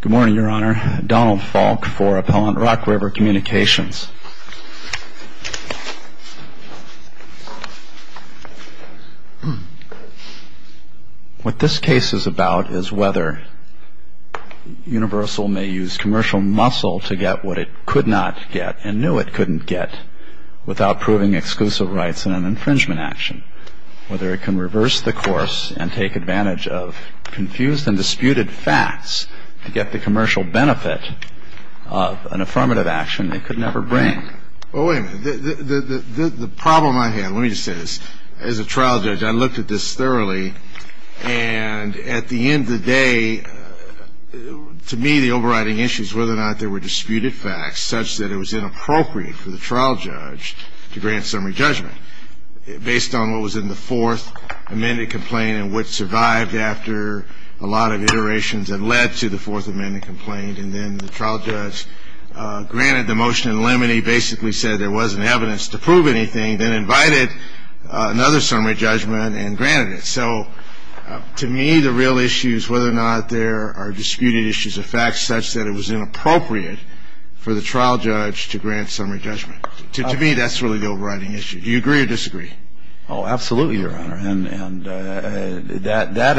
Good morning, Your Honor. Donald Falk for Appellant Rock River Communications. What this case is about is whether Universal may use commercial muscle to get what it could not get and knew it couldn't get without proving exclusive rights in an infringement action. Whether it can reverse the course and take advantage of confused and disputed facts to get the commercial benefit of an affirmative action it could never bring. Well, wait a minute. The problem I have, let me just say this. As a trial judge, I looked at this thoroughly. And at the end of the day, to me, the overriding issue is whether or not there were disputed facts such that it was inappropriate for the trial judge to grant summary judgment. Based on what was in the fourth amended complaint and what survived after a lot of iterations that led to the fourth amended complaint. And then the trial judge granted the motion in limine. He basically said there wasn't evidence to prove anything, then invited another summary judgment and granted it. So to me, the real issue is whether or not there are disputed issues of facts such that it was inappropriate for the trial judge to grant summary judgment. To me, that's really the overriding issue. Do you agree or disagree? Oh, absolutely, Your Honor. And that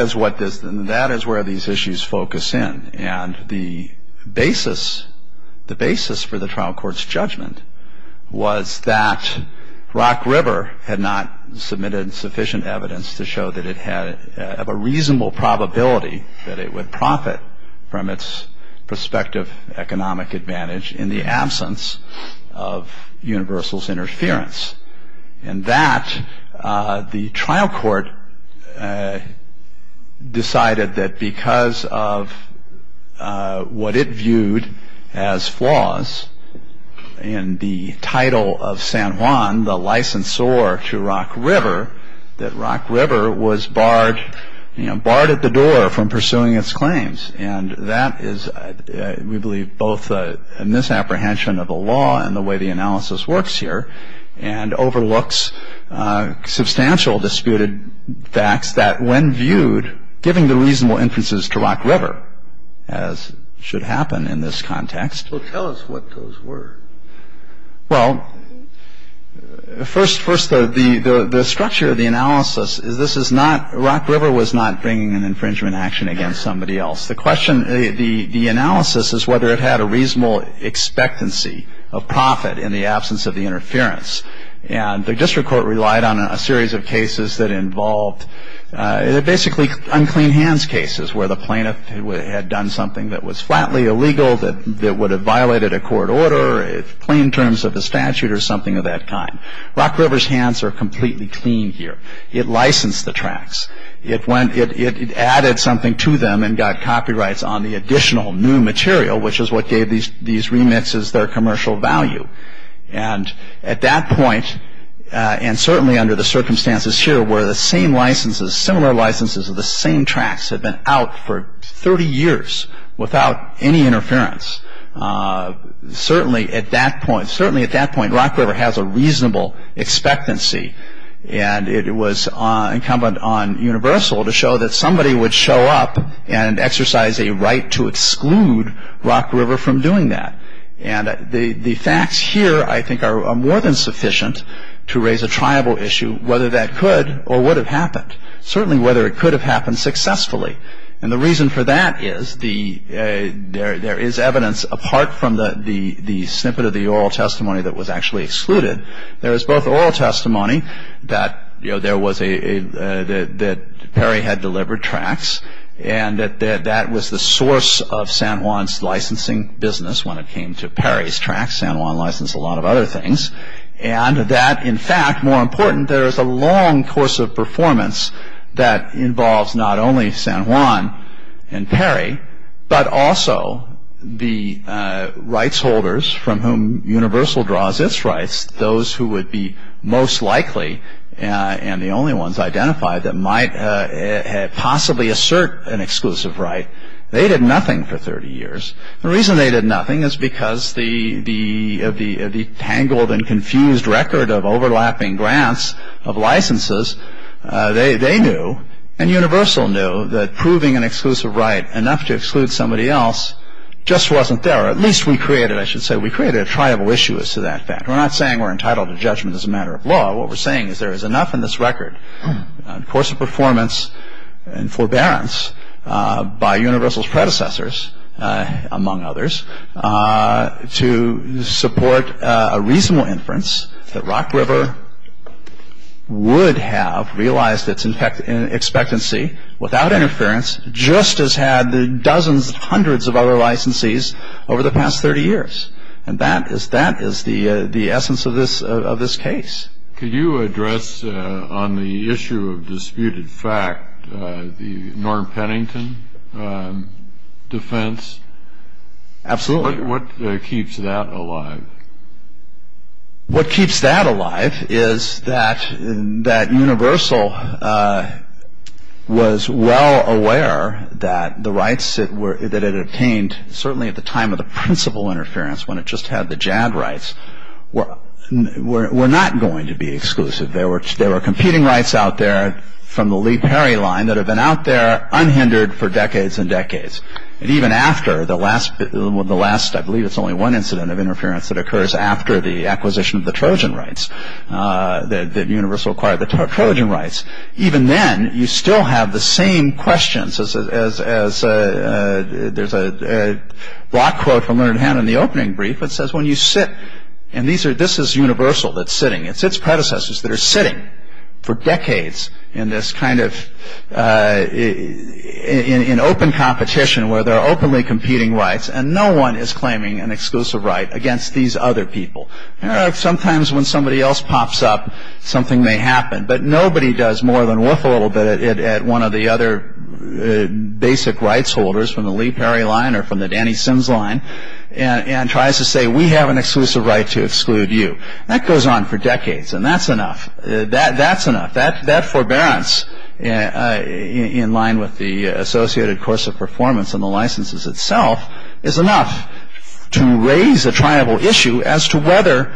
is where these issues focus in. And the basis for the trial court's judgment was that Rock River had not submitted sufficient evidence to show that it had a reasonable probability that it would profit from its prospective economic advantage in the absence of Universal's interference. And that the trial court decided that because of what it viewed as flaws in the title of San Juan, the licensor to Rock River, that Rock River was barred at the door from pursuing its claims. And that is, we believe, both a misapprehension of the law and the way the analysis works here, and overlooks substantial disputed facts that when viewed, giving the reasonable inferences to Rock River, as should happen in this context. Well, tell us what those were. Well, first, the structure of the analysis is this is not, Rock River was not bringing an infringement action against somebody else. The question, the analysis is whether it had a reasonable expectancy of profit in the absence of the interference. And the district court relied on a series of cases that involved, basically, unclean hands cases, where the plaintiff had done something that was flatly illegal, that would have violated a court order, plain terms of the statute or something of that kind. Rock River's hands are completely clean here. It licensed the tracts. It added something to them and got copyrights on the additional new material, which is what gave these remits their commercial value. And at that point, and certainly under the circumstances here, where the same licenses, similar licenses of the same tracts had been out for 30 years without any interference, certainly at that point, certainly at that point, Rock River has a reasonable expectancy. And it was incumbent on Universal to show that somebody would show up and exercise a right to exclude Rock River from doing that. And the facts here, I think, are more than sufficient to raise a tribal issue, whether that could or would have happened, certainly whether it could have happened successfully. And the reason for that is there is evidence, apart from the snippet of the oral testimony that was actually excluded, there is both oral testimony that Perry had delivered tracts, and that that was the source of San Juan's licensing business when it came to Perry's tracts. San Juan licensed a lot of other things. And that, in fact, more important, there is a long course of performance that involves not only San Juan and Perry, but also the rights holders from whom Universal draws its rights, those who would be most likely and the only ones identified that might possibly assert an exclusive right. They did nothing for 30 years. The reason they did nothing is because the tangled and confused record of overlapping grants of licenses, they knew and Universal knew that proving an exclusive right enough to exclude somebody else just wasn't there. Or at least we created, I should say, we created a tribal issue as to that fact. We're not saying we're entitled to judgment as a matter of law. What we're saying is there is enough in this record, course of performance and forbearance, by Universal's predecessors, among others, to support a reasonable inference that Rock River would have realized its expectancy without interference, just as had the dozens, hundreds of other licensees over the past 30 years. And that is the essence of this case. Could you address on the issue of disputed fact the Norm Pennington defense? Absolutely. What keeps that alive? What keeps that alive is that Universal was well aware that the rights that it obtained, certainly at the time of the principal interference when it just had the JAG rights, were not going to be exclusive. There were competing rights out there from the Lee-Perry line that have been out there unhindered for decades and decades. And even after the last, I believe it's only one incident of interference that occurs after the acquisition of the Trojan rights, that Universal acquired the Trojan rights, even then you still have the same questions as there's a block quote from Learned Hand in the opening brief that says, when you sit, and this is Universal that's sitting. It's its predecessors that are sitting for decades in this kind of open competition where there are openly competing rights, and no one is claiming an exclusive right against these other people. Sometimes when somebody else pops up, something may happen, but nobody does more than whiff a little bit at one of the other basic rights holders from the Lee-Perry line or from the Danny Sims line and tries to say, we have an exclusive right to exclude you. That goes on for decades, and that's enough. That's enough. That forbearance in line with the associated course of performance and the licenses itself is enough to raise a tribal issue as to whether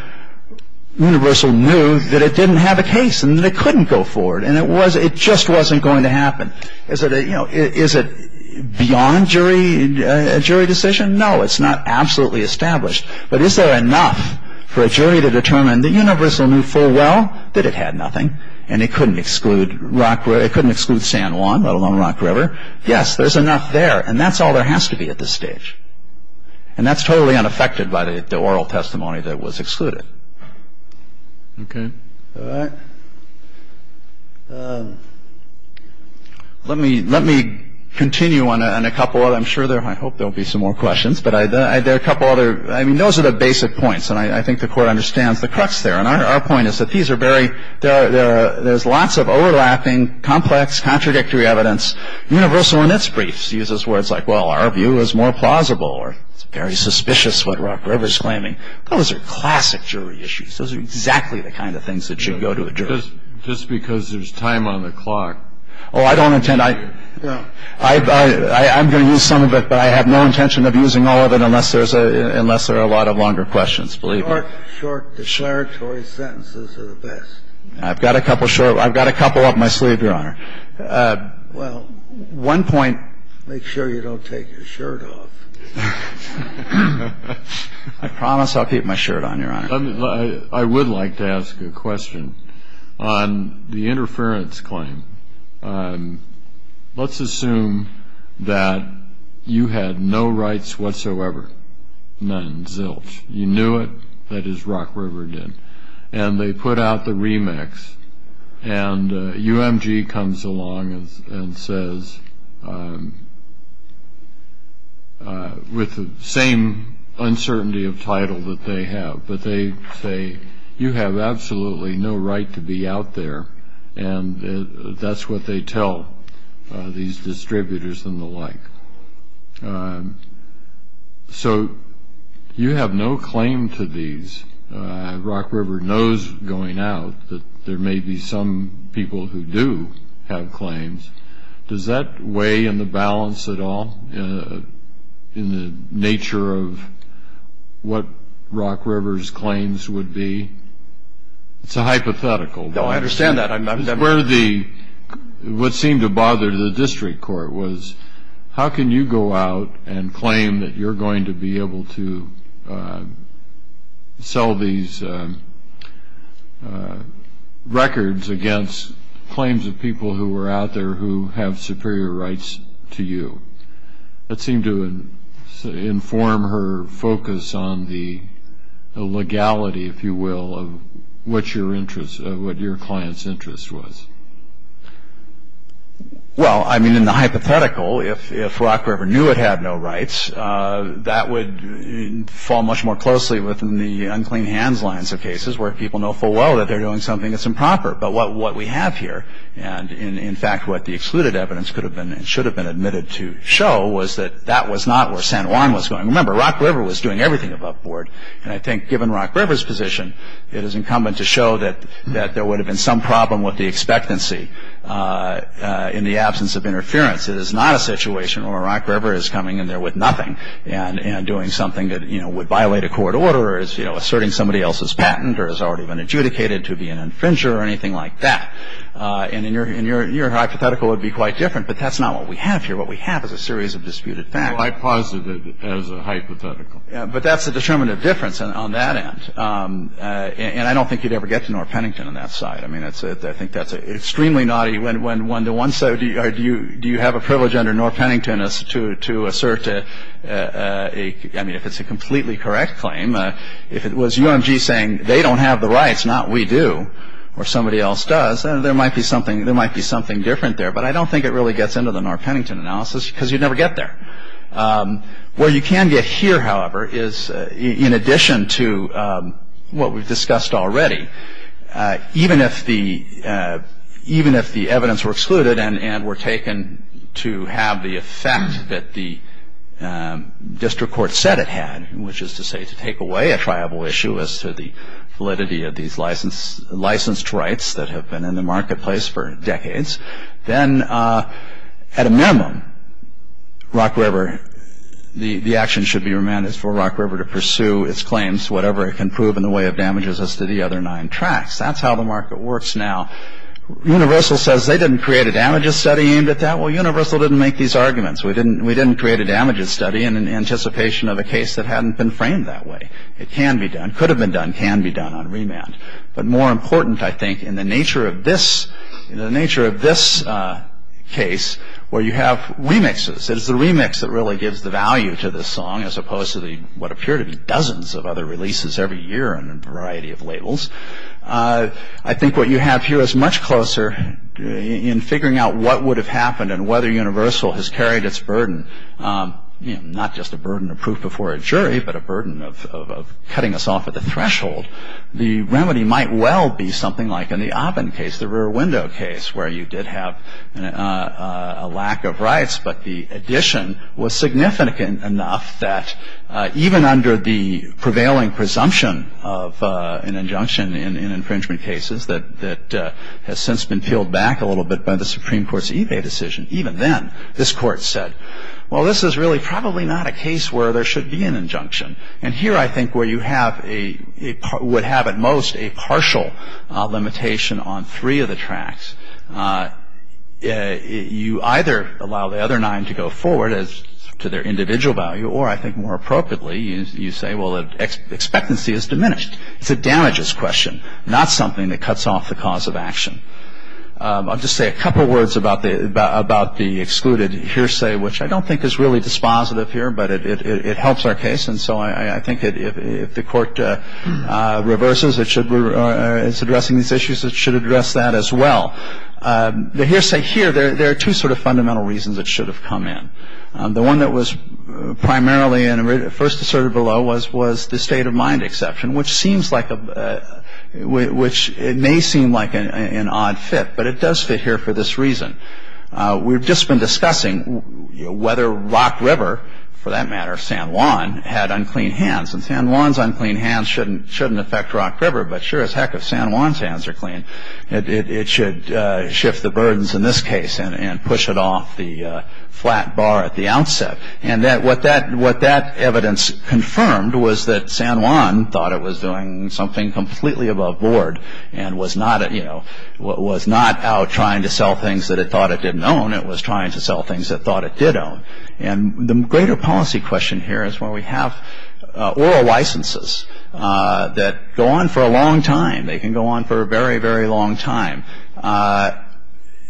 Universal knew that it didn't have a case and that it couldn't go forward and it just wasn't going to happen. Is it beyond jury decision? No, it's not absolutely established. But is there enough for a jury to determine that Universal knew full well that it had nothing, and it couldn't exclude San Juan, let alone Rock River? Yes, there's enough there. And that's all there has to be at this stage. And that's totally unaffected by the oral testimony that was excluded. Okay. All right. Let me continue on a couple of them. I hope there will be some more questions, but there are a couple other. I mean, those are the basic points, and I think the Court understands the crux there. And our point is that there's lots of overlapping, complex, contradictory evidence. Universal, in its briefs, uses words like, well, our view is more plausible or it's very suspicious what Rock River's claiming. Those are classic jury issues. Those are exactly the kind of things that should go to a jury. Just because there's time on the clock. Oh, I don't intend to. I'm going to use some of it, but I have no intention of using all of it unless there are a lot of longer questions, believe me. The short, short declaratory sentences are the best. I've got a couple short. I've got a couple up my sleeve, Your Honor. Well, one point. Make sure you don't take your shirt off. I promise I'll keep my shirt on, Your Honor. I would like to ask a question on the interference claim. Let's assume that you had no rights whatsoever, none, in zilch. You knew it. That is, Rock River did. And they put out the remix. And UMG comes along and says, with the same uncertainty of title that they have, but they say, you have absolutely no right to be out there. And that's what they tell these distributors and the like. So you have no claim to these. Rock River knows going out that there may be some people who do have claims. Does that weigh in the balance at all in the nature of what Rock River's claims would be? It's a hypothetical. No, I understand that. What seemed to bother the district court was, how can you go out and claim that you're going to be able to sell these records against claims of people who were out there who have superior rights to you? That seemed to inform her focus on the legality, if you will, of what your client's interest was. Well, I mean, in the hypothetical, if Rock River knew it had no rights, that would fall much more closely within the unclean hands lines of cases where people know full well that they're doing something that's improper. But what we have here, and in fact what the excluded evidence could have been and should have been admitted to show, was that that was not where San Juan was going. Remember, Rock River was doing everything above board. And I think given Rock River's position, it is incumbent to show that there would have been some problem with the expectancy in the absence of interference. It is not a situation where Rock River is coming in there with nothing and doing something that would violate a court order or is asserting somebody else's patent or has already been adjudicated to be an infringer or anything like that. And your hypothetical would be quite different, but that's not what we have here. What we have is a series of disputed facts. Well, I posit it as a hypothetical. But that's a determinative difference on that end. And I don't think you'd ever get to Norr Pennington on that side. I mean, I think that's extremely naughty when the one side, do you have a privilege under Norr Pennington to assert a, I mean, if it's a completely correct claim, if it was UMG saying they don't have the rights, not we do, or somebody else does, there might be something different there. But I don't think it really gets into the Norr Pennington analysis because you'd never get there. Where you can get here, however, is in addition to what we've discussed already, even if the evidence were excluded and were taken to have the effect that the district court said it had, which is to say to take away a triable issue as to the validity of these licensed rights that have been in the marketplace for decades, then at a minimum, Rock River, the action should be remanded for Rock River to pursue its claims, whatever it can prove in the way of damages as to the other nine tracts. That's how the market works now. Universal says they didn't create a damages study aimed at that. Well, Universal didn't make these arguments. We didn't create a damages study in anticipation of a case that hadn't been framed that way. It can be done, could have been done, can be done on remand. But more important, I think, in the nature of this case where you have remixes, it is the remix that really gives the value to this song as opposed to what appear to be dozens of other releases every year and a variety of labels. I think what you have here is much closer in figuring out what would have happened and whether Universal has carried its burden, not just a burden of proof before a jury, but a burden of cutting us off at the threshold. The remedy might well be something like in the Oppen case, the rear window case, where you did have a lack of rights, but the addition was significant enough that even under the prevailing presumption of an injunction in infringement cases that has since been peeled back a little bit by the Supreme Court's eBay decision, even then this Court said, well, this is really probably not a case where there should be an injunction. And here I think where you would have at most a partial limitation on three of the tracks, you either allow the other nine to go forward as to their individual value or I think more appropriately you say, well, expectancy is diminished. It's a damages question, not something that cuts off the cause of action. I'll just say a couple of words about the excluded hearsay, which I don't think is really dispositive here, but it helps our case. And so I think if the Court reverses its addressing these issues, it should address that as well. The hearsay here, there are two sort of fundamental reasons it should have come in. The one that was primarily first asserted below was the state of mind exception, which may seem like an odd fit, but it does fit here for this reason. We've just been discussing whether Rock River, for that matter San Juan, had unclean hands. And San Juan's unclean hands shouldn't affect Rock River, but sure as heck if San Juan's hands are clean, it should shift the burdens in this case and push it off the flat bar at the outset. And what that evidence confirmed was that San Juan thought it was doing something completely above board and was not out trying to sell things that it thought it didn't own. It was trying to sell things it thought it did own. And the greater policy question here is where we have oral licenses that go on for a long time. They can go on for a very, very long time.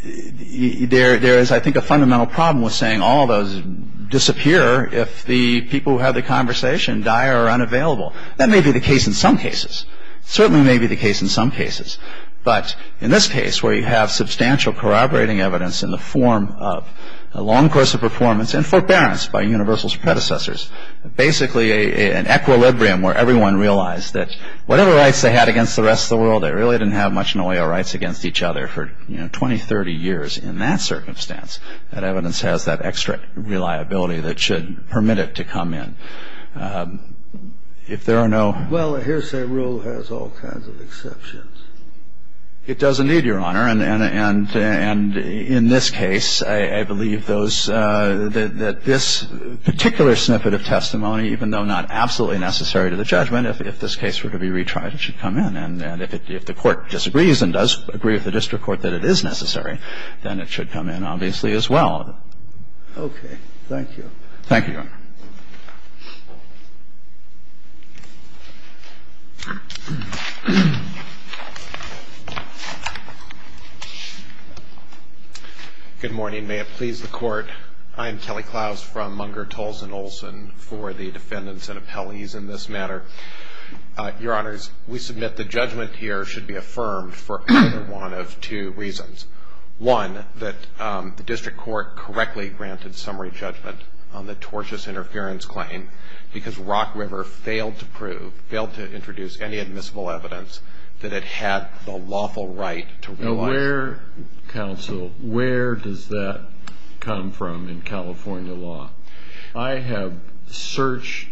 There is, I think, a fundamental problem with saying all of those disappear if the people who have the conversation die or are unavailable. That may be the case in some cases. It certainly may be the case in some cases. But in this case, where you have substantial corroborating evidence in the form of a long course of performance and forbearance by Universal's predecessors, basically an equilibrium where everyone realized that whatever rights they had against the rest of the world, they really didn't have much in the way of rights against each other for 20, 30 years. In that circumstance, that evidence has that extra reliability that should permit it to come in. So if there are no – Well, a hearsay rule has all kinds of exceptions. It does indeed, Your Honor. And in this case, I believe those – that this particular snippet of testimony, even though not absolutely necessary to the judgment, if this case were to be retried, it should come in. And if the court disagrees and does agree with the district court that it is necessary, then it should come in obviously as well. Okay. Thank you. Thank you, Your Honor. Thank you, Your Honor. Good morning. May it please the Court. I am Kelly Klaus from Munger, Tulls, and Olson for the defendants and appellees in this matter. Your Honors, we submit the judgment here should be affirmed for either one of two reasons. One, that the district court correctly granted summary judgment on the tortious interference claim because Rock River failed to prove, failed to introduce any admissible evidence that it had the lawful right to realize... Now, where, counsel, where does that come from in California law? I have searched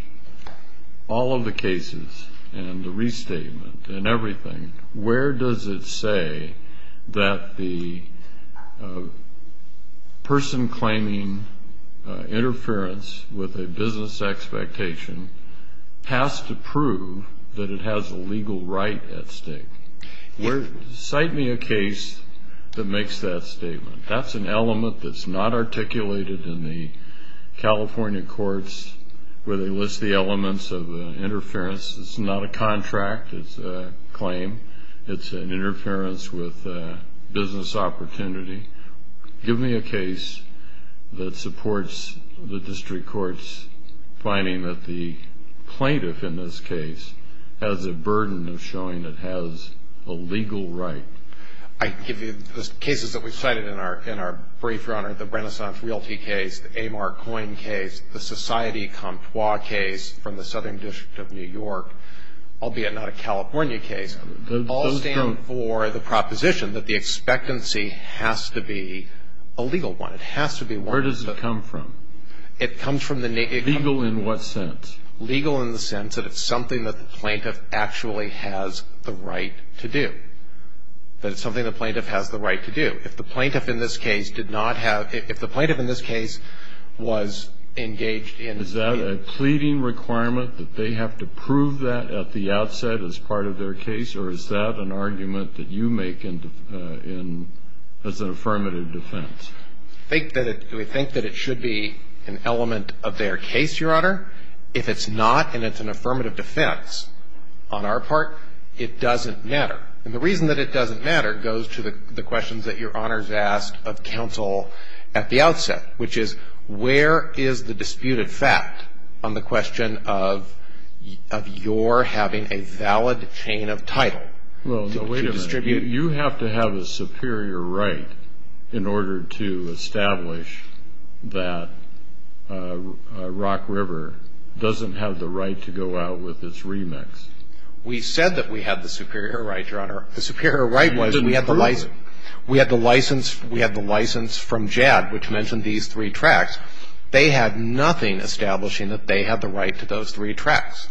all of the cases and the restatement and everything. Where does it say that the person claiming interference with a business expectation has to prove that it has a legal right at stake? Cite me a case that makes that statement. That's an element that's not articulated in the California courts where they list the elements of interference. It's not a contract. It's a claim. It's an interference with business opportunity. Give me a case that supports the district court's finding that the plaintiff in this case has a burden of showing it has a legal right. I give you the cases that we've cited in our brief, Your Honor. I've cited the Renaissance Realty case, the A. Mark Coyne case, the Society Comptoir case from the Southern District of New York, albeit not a California case. Those don't... All stand for the proposition that the expectancy has to be a legal one. It has to be one that... Where does it come from? It comes from the... Legal in what sense? Legal in the sense that it's something that the plaintiff actually has the right to do, that it's something the plaintiff has the right to do. If the plaintiff in this case did not have... If the plaintiff in this case was engaged in... Is that a pleading requirement that they have to prove that at the outset as part of their case, or is that an argument that you make as an affirmative defense? We think that it should be an element of their case, Your Honor. If it's not and it's an affirmative defense on our part, it doesn't matter. And the reason that it doesn't matter goes to the questions that Your Honor has asked of counsel at the outset, which is where is the disputed fact on the question of your having a valid chain of title to distribute? Well, no, wait a minute. You have to have a superior right in order to establish that Rock River doesn't have the right to go out with its remix. We said that we had the superior right, Your Honor. The superior right was we had the license from JAD, which mentioned these three tracks. They had nothing establishing that they had the right to those three tracks.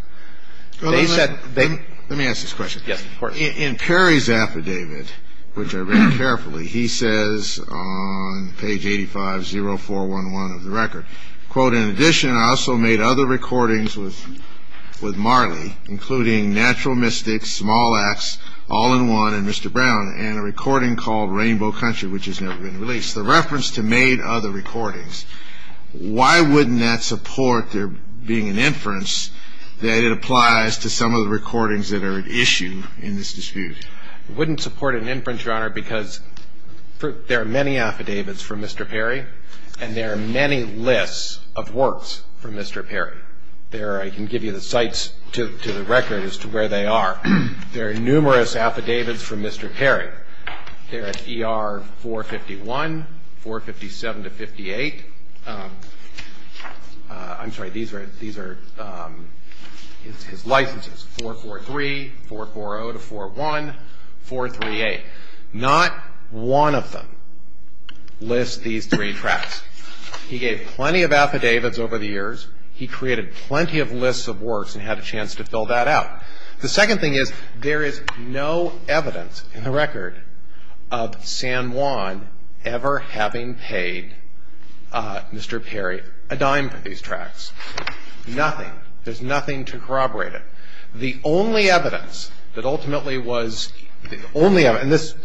Let me ask this question. Yes, of course. In Perry's affidavit, which I read carefully, he says on page 85-0411 of the record, in addition, I also made other recordings with Marley, including Natural Mystic, Small Axe, All-in-One, and Mr. Brown, and a recording called Rainbow Country, which has never been released. The reference to made other recordings, why wouldn't that support there being an inference that it applies to some of the recordings that are at issue in this dispute? It wouldn't support an inference, Your Honor, because there are many affidavits from Mr. Perry, and there are many lists of works from Mr. Perry. I can give you the sites to the record as to where they are. There are numerous affidavits from Mr. Perry. They're at ER 451, 457-58. I'm sorry, these are his licenses, 443, 440-41, 438. Not one of them lists these three tracks. He gave plenty of affidavits over the years. He created plenty of lists of works and had a chance to fill that out. The second thing is there is no evidence in the record of San Juan ever having paid Mr. Perry a dime for these tracks, nothing. There's nothing to corroborate it. The only evidence that ultimately was the only evidence, and this,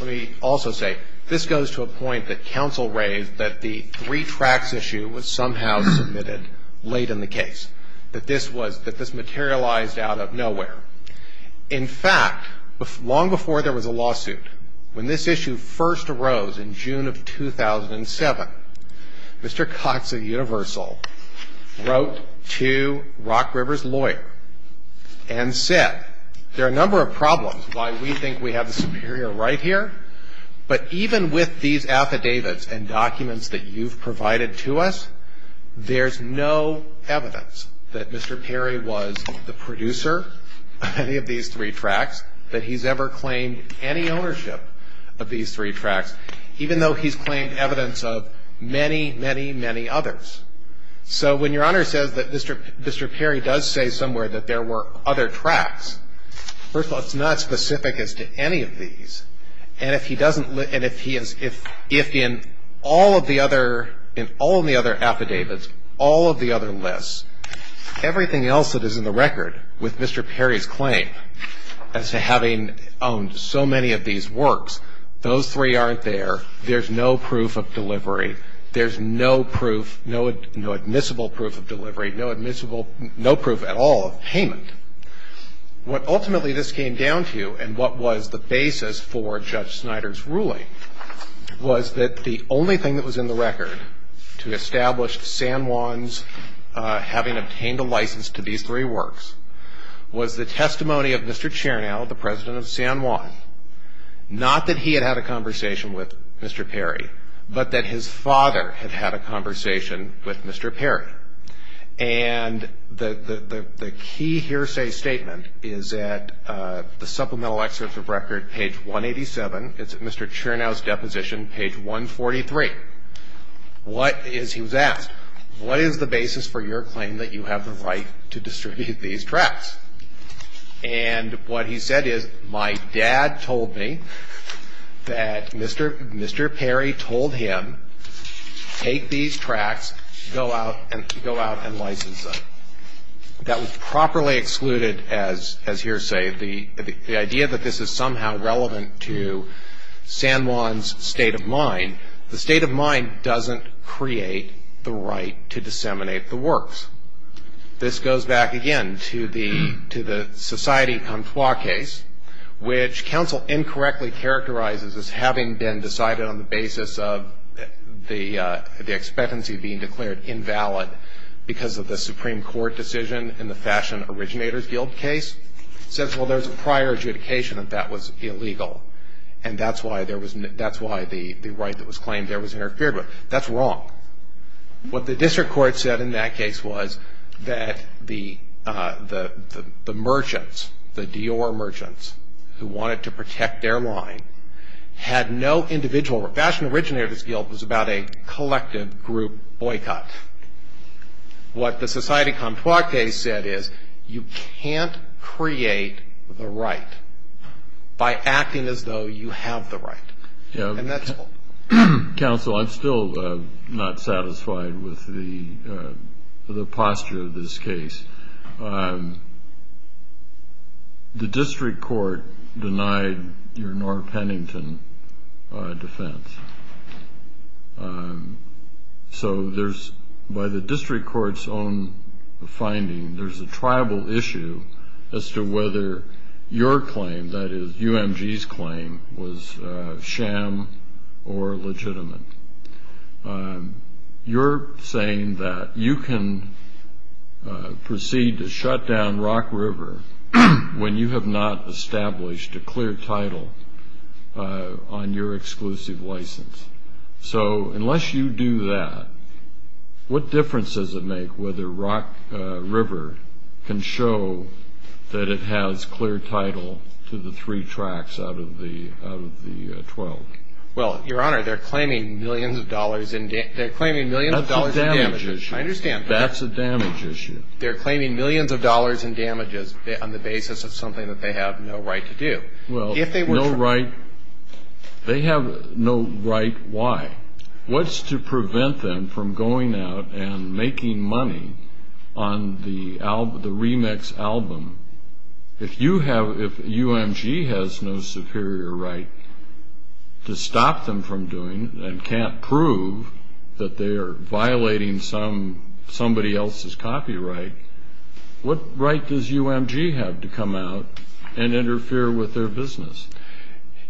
let me also say, this goes to a point that counsel raised that the three tracks issue was somehow submitted late in the case, that this materialized out of nowhere. In fact, long before there was a lawsuit, when this issue first arose in June of 2007, Mr. Cox of Universal wrote to Rock River's lawyer and said, there are a number of problems why we think we have the superior right here, but even with these affidavits and documents that you've provided to us, there's no evidence that Mr. Perry was the producer of any of these three tracks, that he's ever claimed any ownership of these three tracks, even though he's claimed evidence of many, many, many others. So when Your Honor says that Mr. Perry does say somewhere that there were other tracks, first of all, it's not specific as to any of these. And if he doesn't, and if he is, if in all of the other, in all of the other affidavits, all of the other lists, everything else that is in the record with Mr. Perry's claim as to having owned so many of these works, those three aren't there. There's no proof of delivery. There's no proof, no admissible proof of delivery, no admissible, no proof at all of payment. What ultimately this came down to and what was the basis for Judge Snyder's ruling was that the only thing that was in the record to establish San Juan's having obtained a license to these three works was the testimony of Mr. Chernow, the president of San Juan, not that he had had a conversation with Mr. Perry, but that his father had had a conversation with Mr. Perry. And the key hearsay statement is at the supplemental excerpt of record, page 187. It's at Mr. Chernow's deposition, page 143. What is, he was asked, what is the basis for your claim that you have the right to distribute these tracks? And what he said is, my dad told me that Mr. Perry told him, take these tracks, go out and license them. That was properly excluded as hearsay. The idea that this is somehow relevant to San Juan's state of mind, the state of mind doesn't create the right to disseminate the works. This goes back again to the Society Conflag case, which counsel incorrectly characterizes as having been decided on the basis of the expectancy being declared invalid because of the Supreme Court decision in the Fashion Originator's Guild case. It says, well, there's a prior adjudication that that was illegal, and that's why the right that was claimed there was interfered with. That's wrong. What the district court said in that case was that the merchants, the Dior merchants who wanted to protect their line, had no individual, Fashion Originator's Guild was about a collective group boycott. What the Society Conflag case said is, you can't create the right by acting as though you have the right. Counsel, I'm still not satisfied with the posture of this case. The district court denied your Norr Pennington defense. So there's, by the district court's own finding, there's a tribal issue as to whether your claim, that is UMG's claim, was sham or legitimate. You're saying that you can proceed to shut down Rock River when you have not established a clear title on your exclusive license. So unless you do that, what difference does it make whether Rock River can show that it has clear title to the three tracts out of the 12? Well, Your Honor, they're claiming millions of dollars in damages. That's a damage issue. I understand. That's a damage issue. They're claiming millions of dollars in damages on the basis of something that they have no right to do. Well, no right. They have no right. Why? What's to prevent them from going out and making money on the remix album if UMG has no superior right to stop them from doing and can't prove that they are violating somebody else's copyright? What right does UMG have to come out and interfere with their business?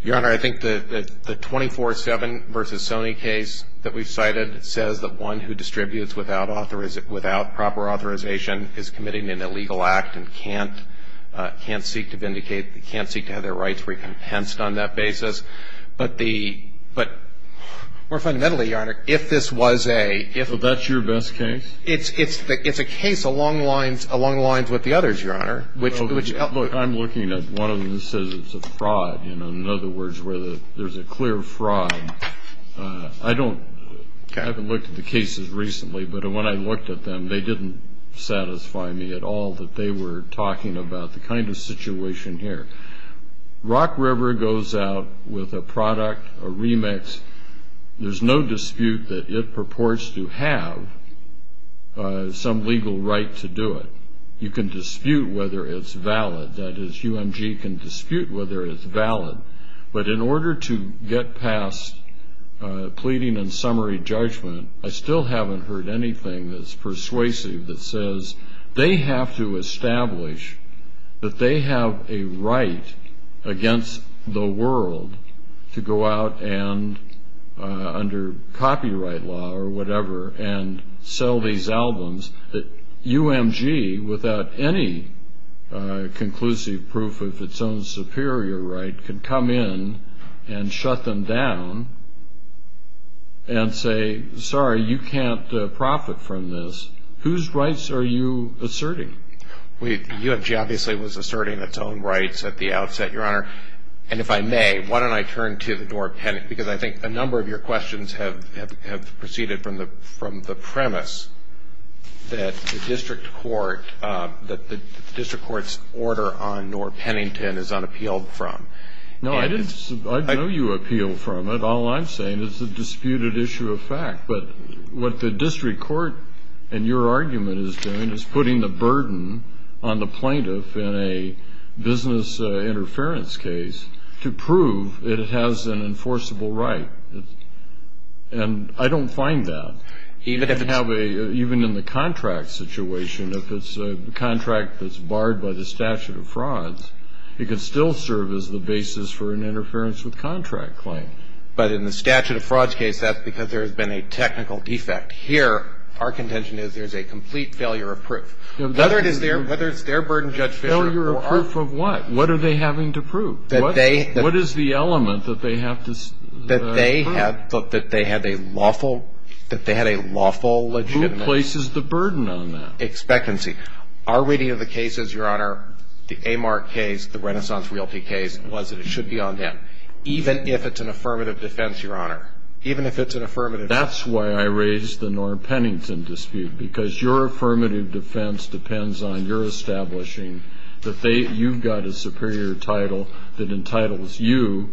Your Honor, I think the 24-7 versus Sony case that we've cited says that one who distributes without proper authorization is committing an illegal act and can't seek to vindicate, can't seek to have their rights recompensed on that basis. But more fundamentally, Your Honor, if this was a – So that's your best case? It's a case along the lines with the others, Your Honor. Look, I'm looking at one of them that says it's a fraud. In other words, there's a clear fraud. I don't – I haven't looked at the cases recently, but when I looked at them they didn't satisfy me at all that they were talking about the kind of situation here. Rock River goes out with a product, a remix. There's no dispute that it purports to have some legal right to do it. You can dispute whether it's valid. That is, UMG can dispute whether it's valid. But in order to get past pleading and summary judgment, I still haven't heard anything that's persuasive that says they have to establish that they have a right against the world to go out and, under copyright law or whatever, and sell these albums that UMG, without any conclusive proof of its own superior right, can come in and shut them down and say, sorry, you can't profit from this. Whose rights are you asserting? UMG obviously was asserting its own rights at the outset, Your Honor. And if I may, why don't I turn to the Noor-Pennington, because I think a number of your questions have proceeded from the premise that the district court – that the district court's order on Noor-Pennington is unappealed from. No, I didn't – I know you appeal from it. All I'm saying is it's a disputed issue of fact. But what the district court in your argument is doing is putting the burden on the plaintiff in a business interference case to prove that it has an enforceable right. And I don't find that. Even if it have a – even in the contract situation, if it's a contract that's barred by the statute of frauds, it could still serve as the basis for an interference with contract claim. But in the statute of frauds case, that's because there has been a technical defect. Here, our contention is there's a complete failure of proof. Whether it is their – whether it's their burden, Judge Fischer, or our – Failure of proof of what? What are they having to prove? That they – What is the element that they have to – That they have – that they had a lawful – that they had a lawful legitimate – Who places the burden on that? Expecancy. Our reading of the case is, Your Honor, the Amart case, the Renaissance Realty case, was that it should be on them. Even if it's an affirmative defense, Your Honor. Even if it's an affirmative defense. That's why I raised the Norm Pennington dispute. Because your affirmative defense depends on your establishing that they – you've got a superior title that entitles you.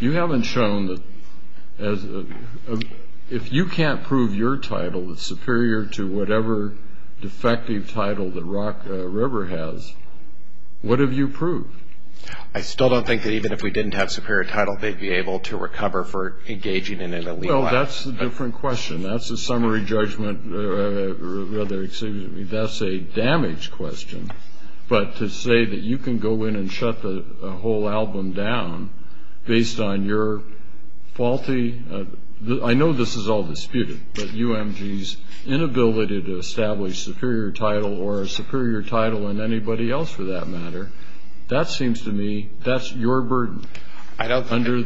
You haven't shown that as a – If you can't prove your title is superior to whatever defective title that Rock River has, what have you proved? I still don't think that even if we didn't have superior title, they'd be able to recover for engaging in an illegal act. Well, that's a different question. That's a summary judgment. Rather, excuse me, that's a damage question. But to say that you can go in and shut the whole album down based on your faulty – I know this is all disputed, but UMG's inability to establish superior title or a superior title in anybody else, for that matter, that seems to me that's your burden under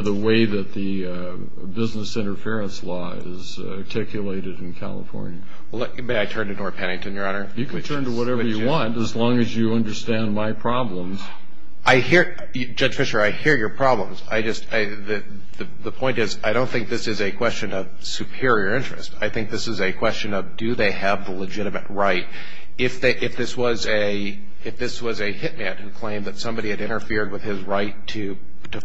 the way that the business interference law is articulated in California. May I turn to Norm Pennington, Your Honor? You can turn to whatever you want as long as you understand my problems. I hear – Judge Fisher, I hear your problems. I just – the point is I don't think this is a question of superior interest. I think this is a question of do they have the legitimate right. If this was a hitman who claimed that somebody had interfered with his right to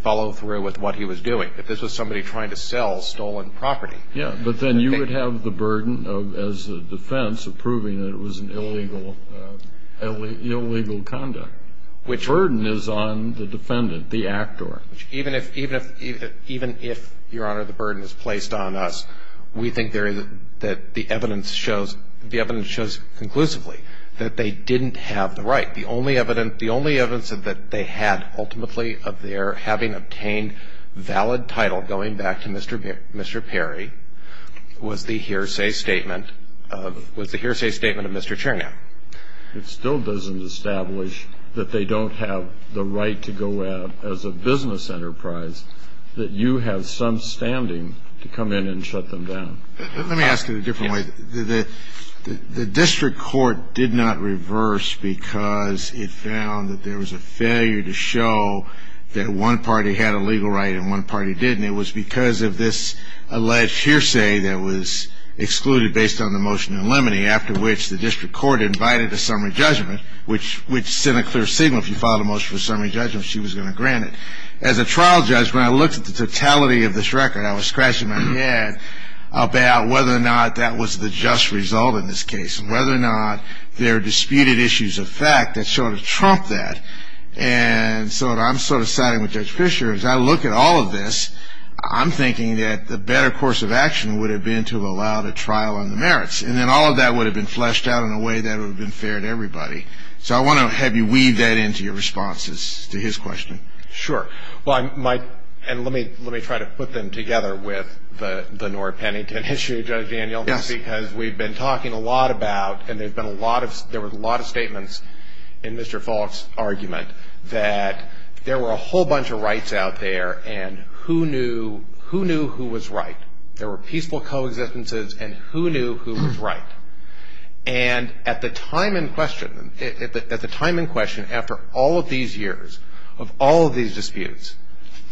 follow through with what he was doing, if this was somebody trying to sell stolen property – Yeah, but then you would have the burden as a defense of proving that it was an illegal conduct. Which – The burden is on the defendant, the actor. Even if, Your Honor, the burden is placed on us, we think that the evidence shows conclusively that they didn't have the right. The only evidence that they had ultimately of their having obtained valid title, going back to Mr. Perry, was the hearsay statement of Mr. Chernow. It still doesn't establish that they don't have the right to go out as a business enterprise, that you have some standing to come in and shut them down. Let me ask it a different way. The district court did not reverse because it found that there was a failure to show that one party had a legal right and one party didn't. It was because of this alleged hearsay that was excluded based on the motion in limine, after which the district court invited a summary judgment, which sent a clear signal if you filed a motion for a summary judgment, she was going to grant it. As a trial judge, when I looked at the totality of this record, I was scratching my head about whether or not that was the just result in this case, whether or not there are disputed issues of fact that sort of trump that. And so I'm sort of siding with Judge Fisher. As I look at all of this, I'm thinking that the better course of action would have been to have allowed a trial on the merits. And then all of that would have been fleshed out in a way that would have been fair to everybody. So I want to have you weave that into your responses to his question. Sure. Well, I might. And let me try to put them together with the Nora Pennington issue, Judge Daniel. Yes. Because we've been talking a lot about, and there were a lot of statements in Mr. Falk's argument, that there were a whole bunch of rights out there. And who knew who was right? There were peaceful coexistences, and who knew who was right? And at the time in question, after all of these years of all of these disputes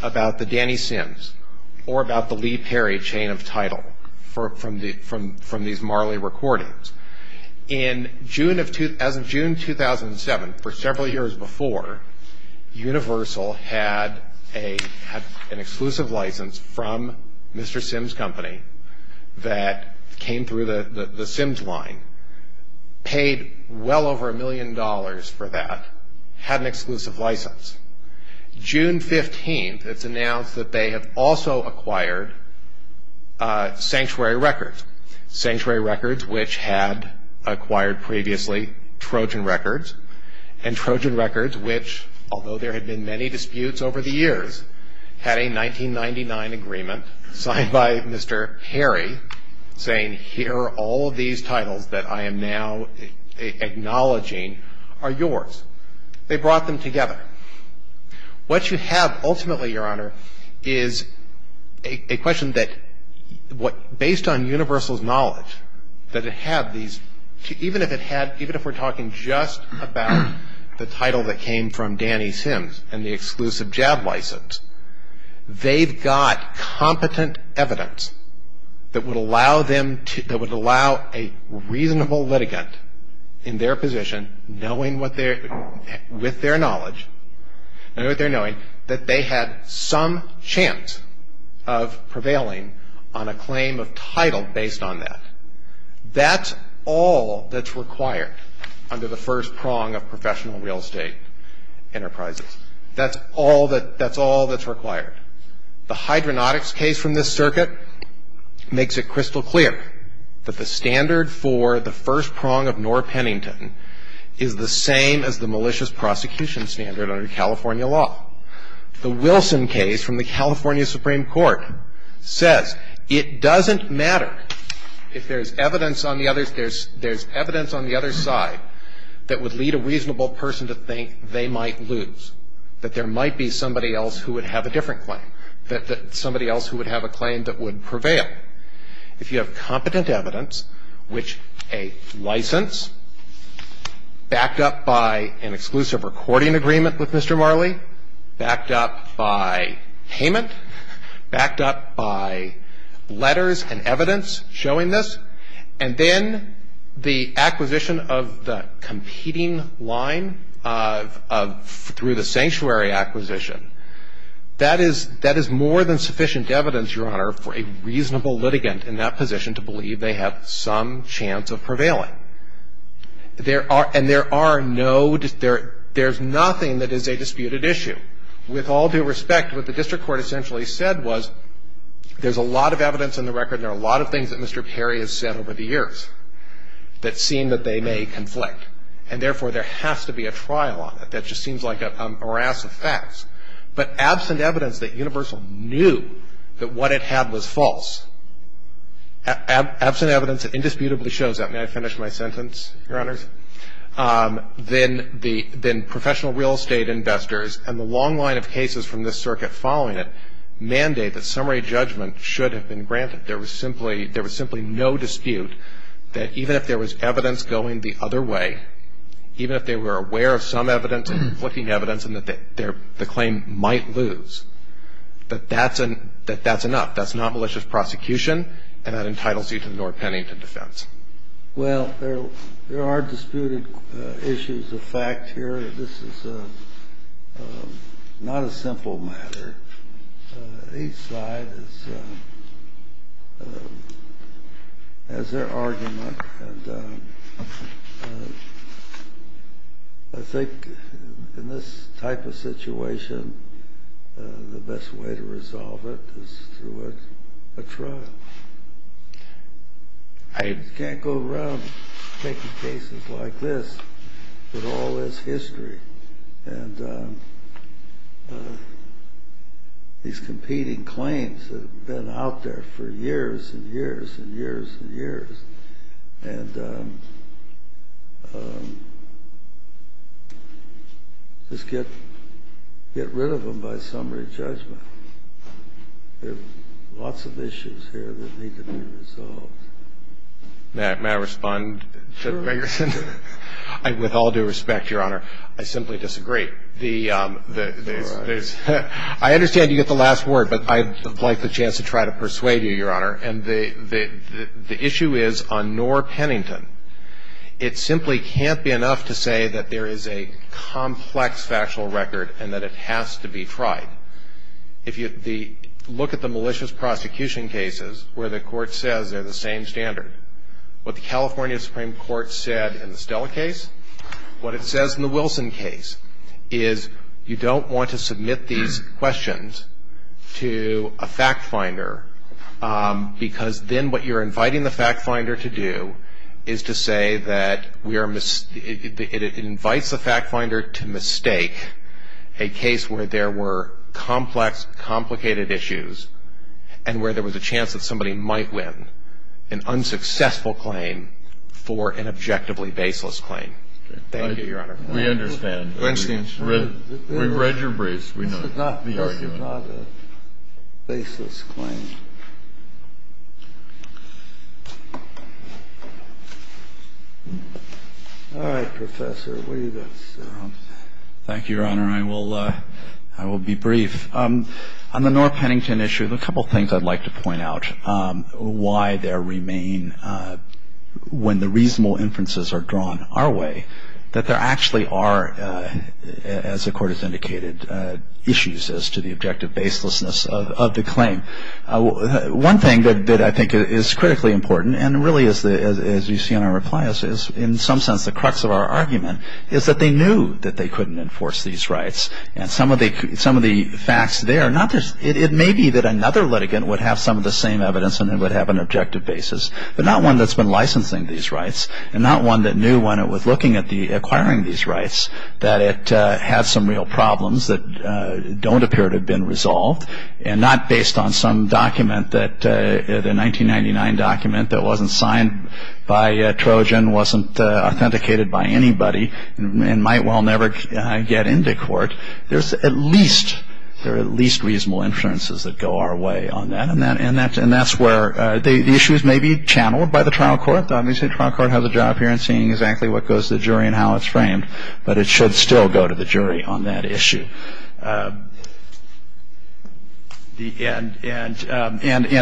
about the Danny Sims or about the Lee Perry chain of title from these Marley recordings, as of June 2007, for several years before, Universal had an exclusive license from Mr. Sims' company that came through the Sims line, paid well over a million dollars for that, had an exclusive license. June 15th, it's announced that they have also acquired Sanctuary Records, Sanctuary Records which had acquired previously Trojan Records, and Trojan Records which, although there had been many disputes over the years, had a 1999 agreement signed by Mr. Perry saying, here are all of these titles that I am now acknowledging are yours. They brought them together. What you have ultimately, Your Honor, is a question that, based on Universal's knowledge, that it had these, even if it had, even if we're talking just about the title that came from Danny Sims and the exclusive JAB license, they've got competent evidence that would allow them to, that would allow a reasonable litigant in their position, knowing what their, with their knowledge, knowing what their knowing, that they had some chance of prevailing on a claim of title based on that. That's all that's required under the first prong of professional real estate enterprises. That's all that, that's all that's required. The hydronautics case from this circuit makes it crystal clear that the standard for the first prong of Knorr-Pennington is the same as the malicious prosecution standard under California law. The Wilson case from the California Supreme Court says it doesn't matter if there's evidence on the other, there's evidence on the other side that would lead a reasonable person to think they might lose, that there might be somebody else who would have a different claim, that somebody else who would have a claim that would prevail. If you have competent evidence, which a license backed up by an exclusive recording agreement with Mr. Marley, backed up by payment, backed up by letters and evidence showing this, and then the acquisition of the competing line of, through the sanctuary acquisition, that is, that is more than sufficient evidence, Your Honor, for a reasonable litigant in that position to believe they have some chance of prevailing. There are, and there are no, there's nothing that is a disputed issue. With all due respect, what the district court essentially said was there's a lot of evidence in the record and there are a lot of things that Mr. Perry has said over the years that seem that they may conflict, and therefore there has to be a trial on it. That just seems like a harass of facts. But absent evidence that Universal knew that what it had was false, absent evidence that indisputably shows that. May I finish my sentence, Your Honors? Then professional real estate investors and the long line of cases from this circuit following it mandate that summary judgment should have been granted. There was simply no dispute that even if there was evidence going the other way, even if they were aware of some evidence and conflicting evidence and that the claim might lose, that that's enough. That's not malicious prosecution and that entitles you to the North Pennington defense. Well, there are disputed issues of fact here. This is not a simple matter. Each side has their argument. And I think in this type of situation, the best way to resolve it is through a trial. I can't go around taking cases like this, but all this history. And these competing claims that have been out there for years and years and years and years. And just get rid of them by summary judgment. There are lots of issues here that need to be resolved. May I respond to Ferguson? With all due respect, Your Honor, I simply disagree. I understand you get the last word, but I'd like the chance to try to persuade you, Your Honor. And the issue is on North Pennington. It simply can't be enough to say that there is a complex factual record and that it has to be tried. If you look at the malicious prosecution cases where the court says they're the same standard, what the California Supreme Court said in the Stella case, what it says in the Wilson case, is you don't want to submit these questions to a fact finder because then what you're inviting the fact finder to do is to say that it invites the fact finder to mistake a case where there were complex, complicated issues and where there was a chance that somebody might win an unsuccessful claim for an objectively baseless claim. Thank you, Your Honor. We understand. We've read your briefs. This is not a baseless claim. All right, Professor, what do you think? Thank you, Your Honor. I will be brief. On the North Pennington issue, there are a couple of things I'd like to point out why there remain, when the reasonable inferences are drawn our way, that there actually are, as the Court has indicated, issues as to the objective baselessness of the claim. One thing that I think is critically important and really, as you see in our replies, is in some sense the crux of our argument is that they knew that they couldn't enforce these rights. And some of the facts there, it may be that another litigant would have some of the same evidence and would have an objective basis, but not one that's been licensing these rights and not one that knew when it was looking at acquiring these rights that it had some real problems that don't appear to have been resolved and not based on some document, the 1999 document that wasn't signed by Trojan, wasn't authenticated by anybody and might well never get into court. There are at least reasonable inferences that go our way on that. And that's where the issues may be channeled by the trial court. The trial court has a job here in seeing exactly what goes to the jury and how it's framed, but it should still go to the jury on that issue. And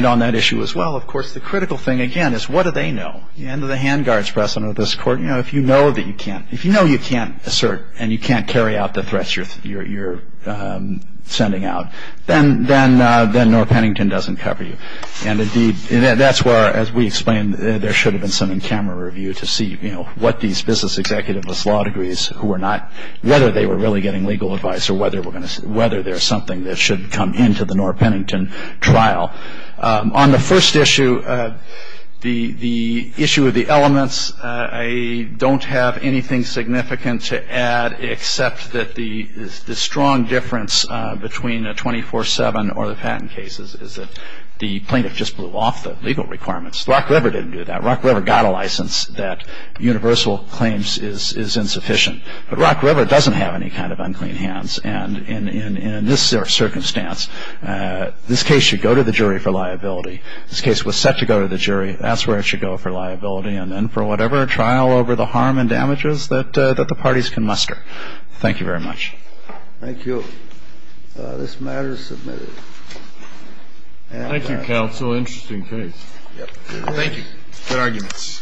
on that issue as well, of course, the critical thing, again, is what do they know? The hand of the hand guards present at this court, you know, if you know that you can't, if you know you can't assert and you can't carry out the threats you're sending out, then North Pennington doesn't cover you. And indeed, that's where, as we explained, there should have been some in-camera review to see, you know, what these business executives with law degrees, who are not, whether they were really getting legal advice or whether there's something that should come into the North Pennington trial. On the first issue, the issue of the elements, I don't have anything significant to add except that the strong difference between a 24-7 or the patent cases is that the plaintiff just blew off the legal requirements. Rock River didn't do that. Rock River got a license that universal claims is insufficient. But Rock River doesn't have any kind of unclean hands. And in this circumstance, this case should go to the jury for liability. This case was set to go to the jury. That's where it should go for liability and then for whatever trial over the harm and damages that the parties can muster. Thank you very much. Thank you. This matter is submitted. Thank you, counsel. Interesting case. Thank you. Good arguments. Thank you. Thank you.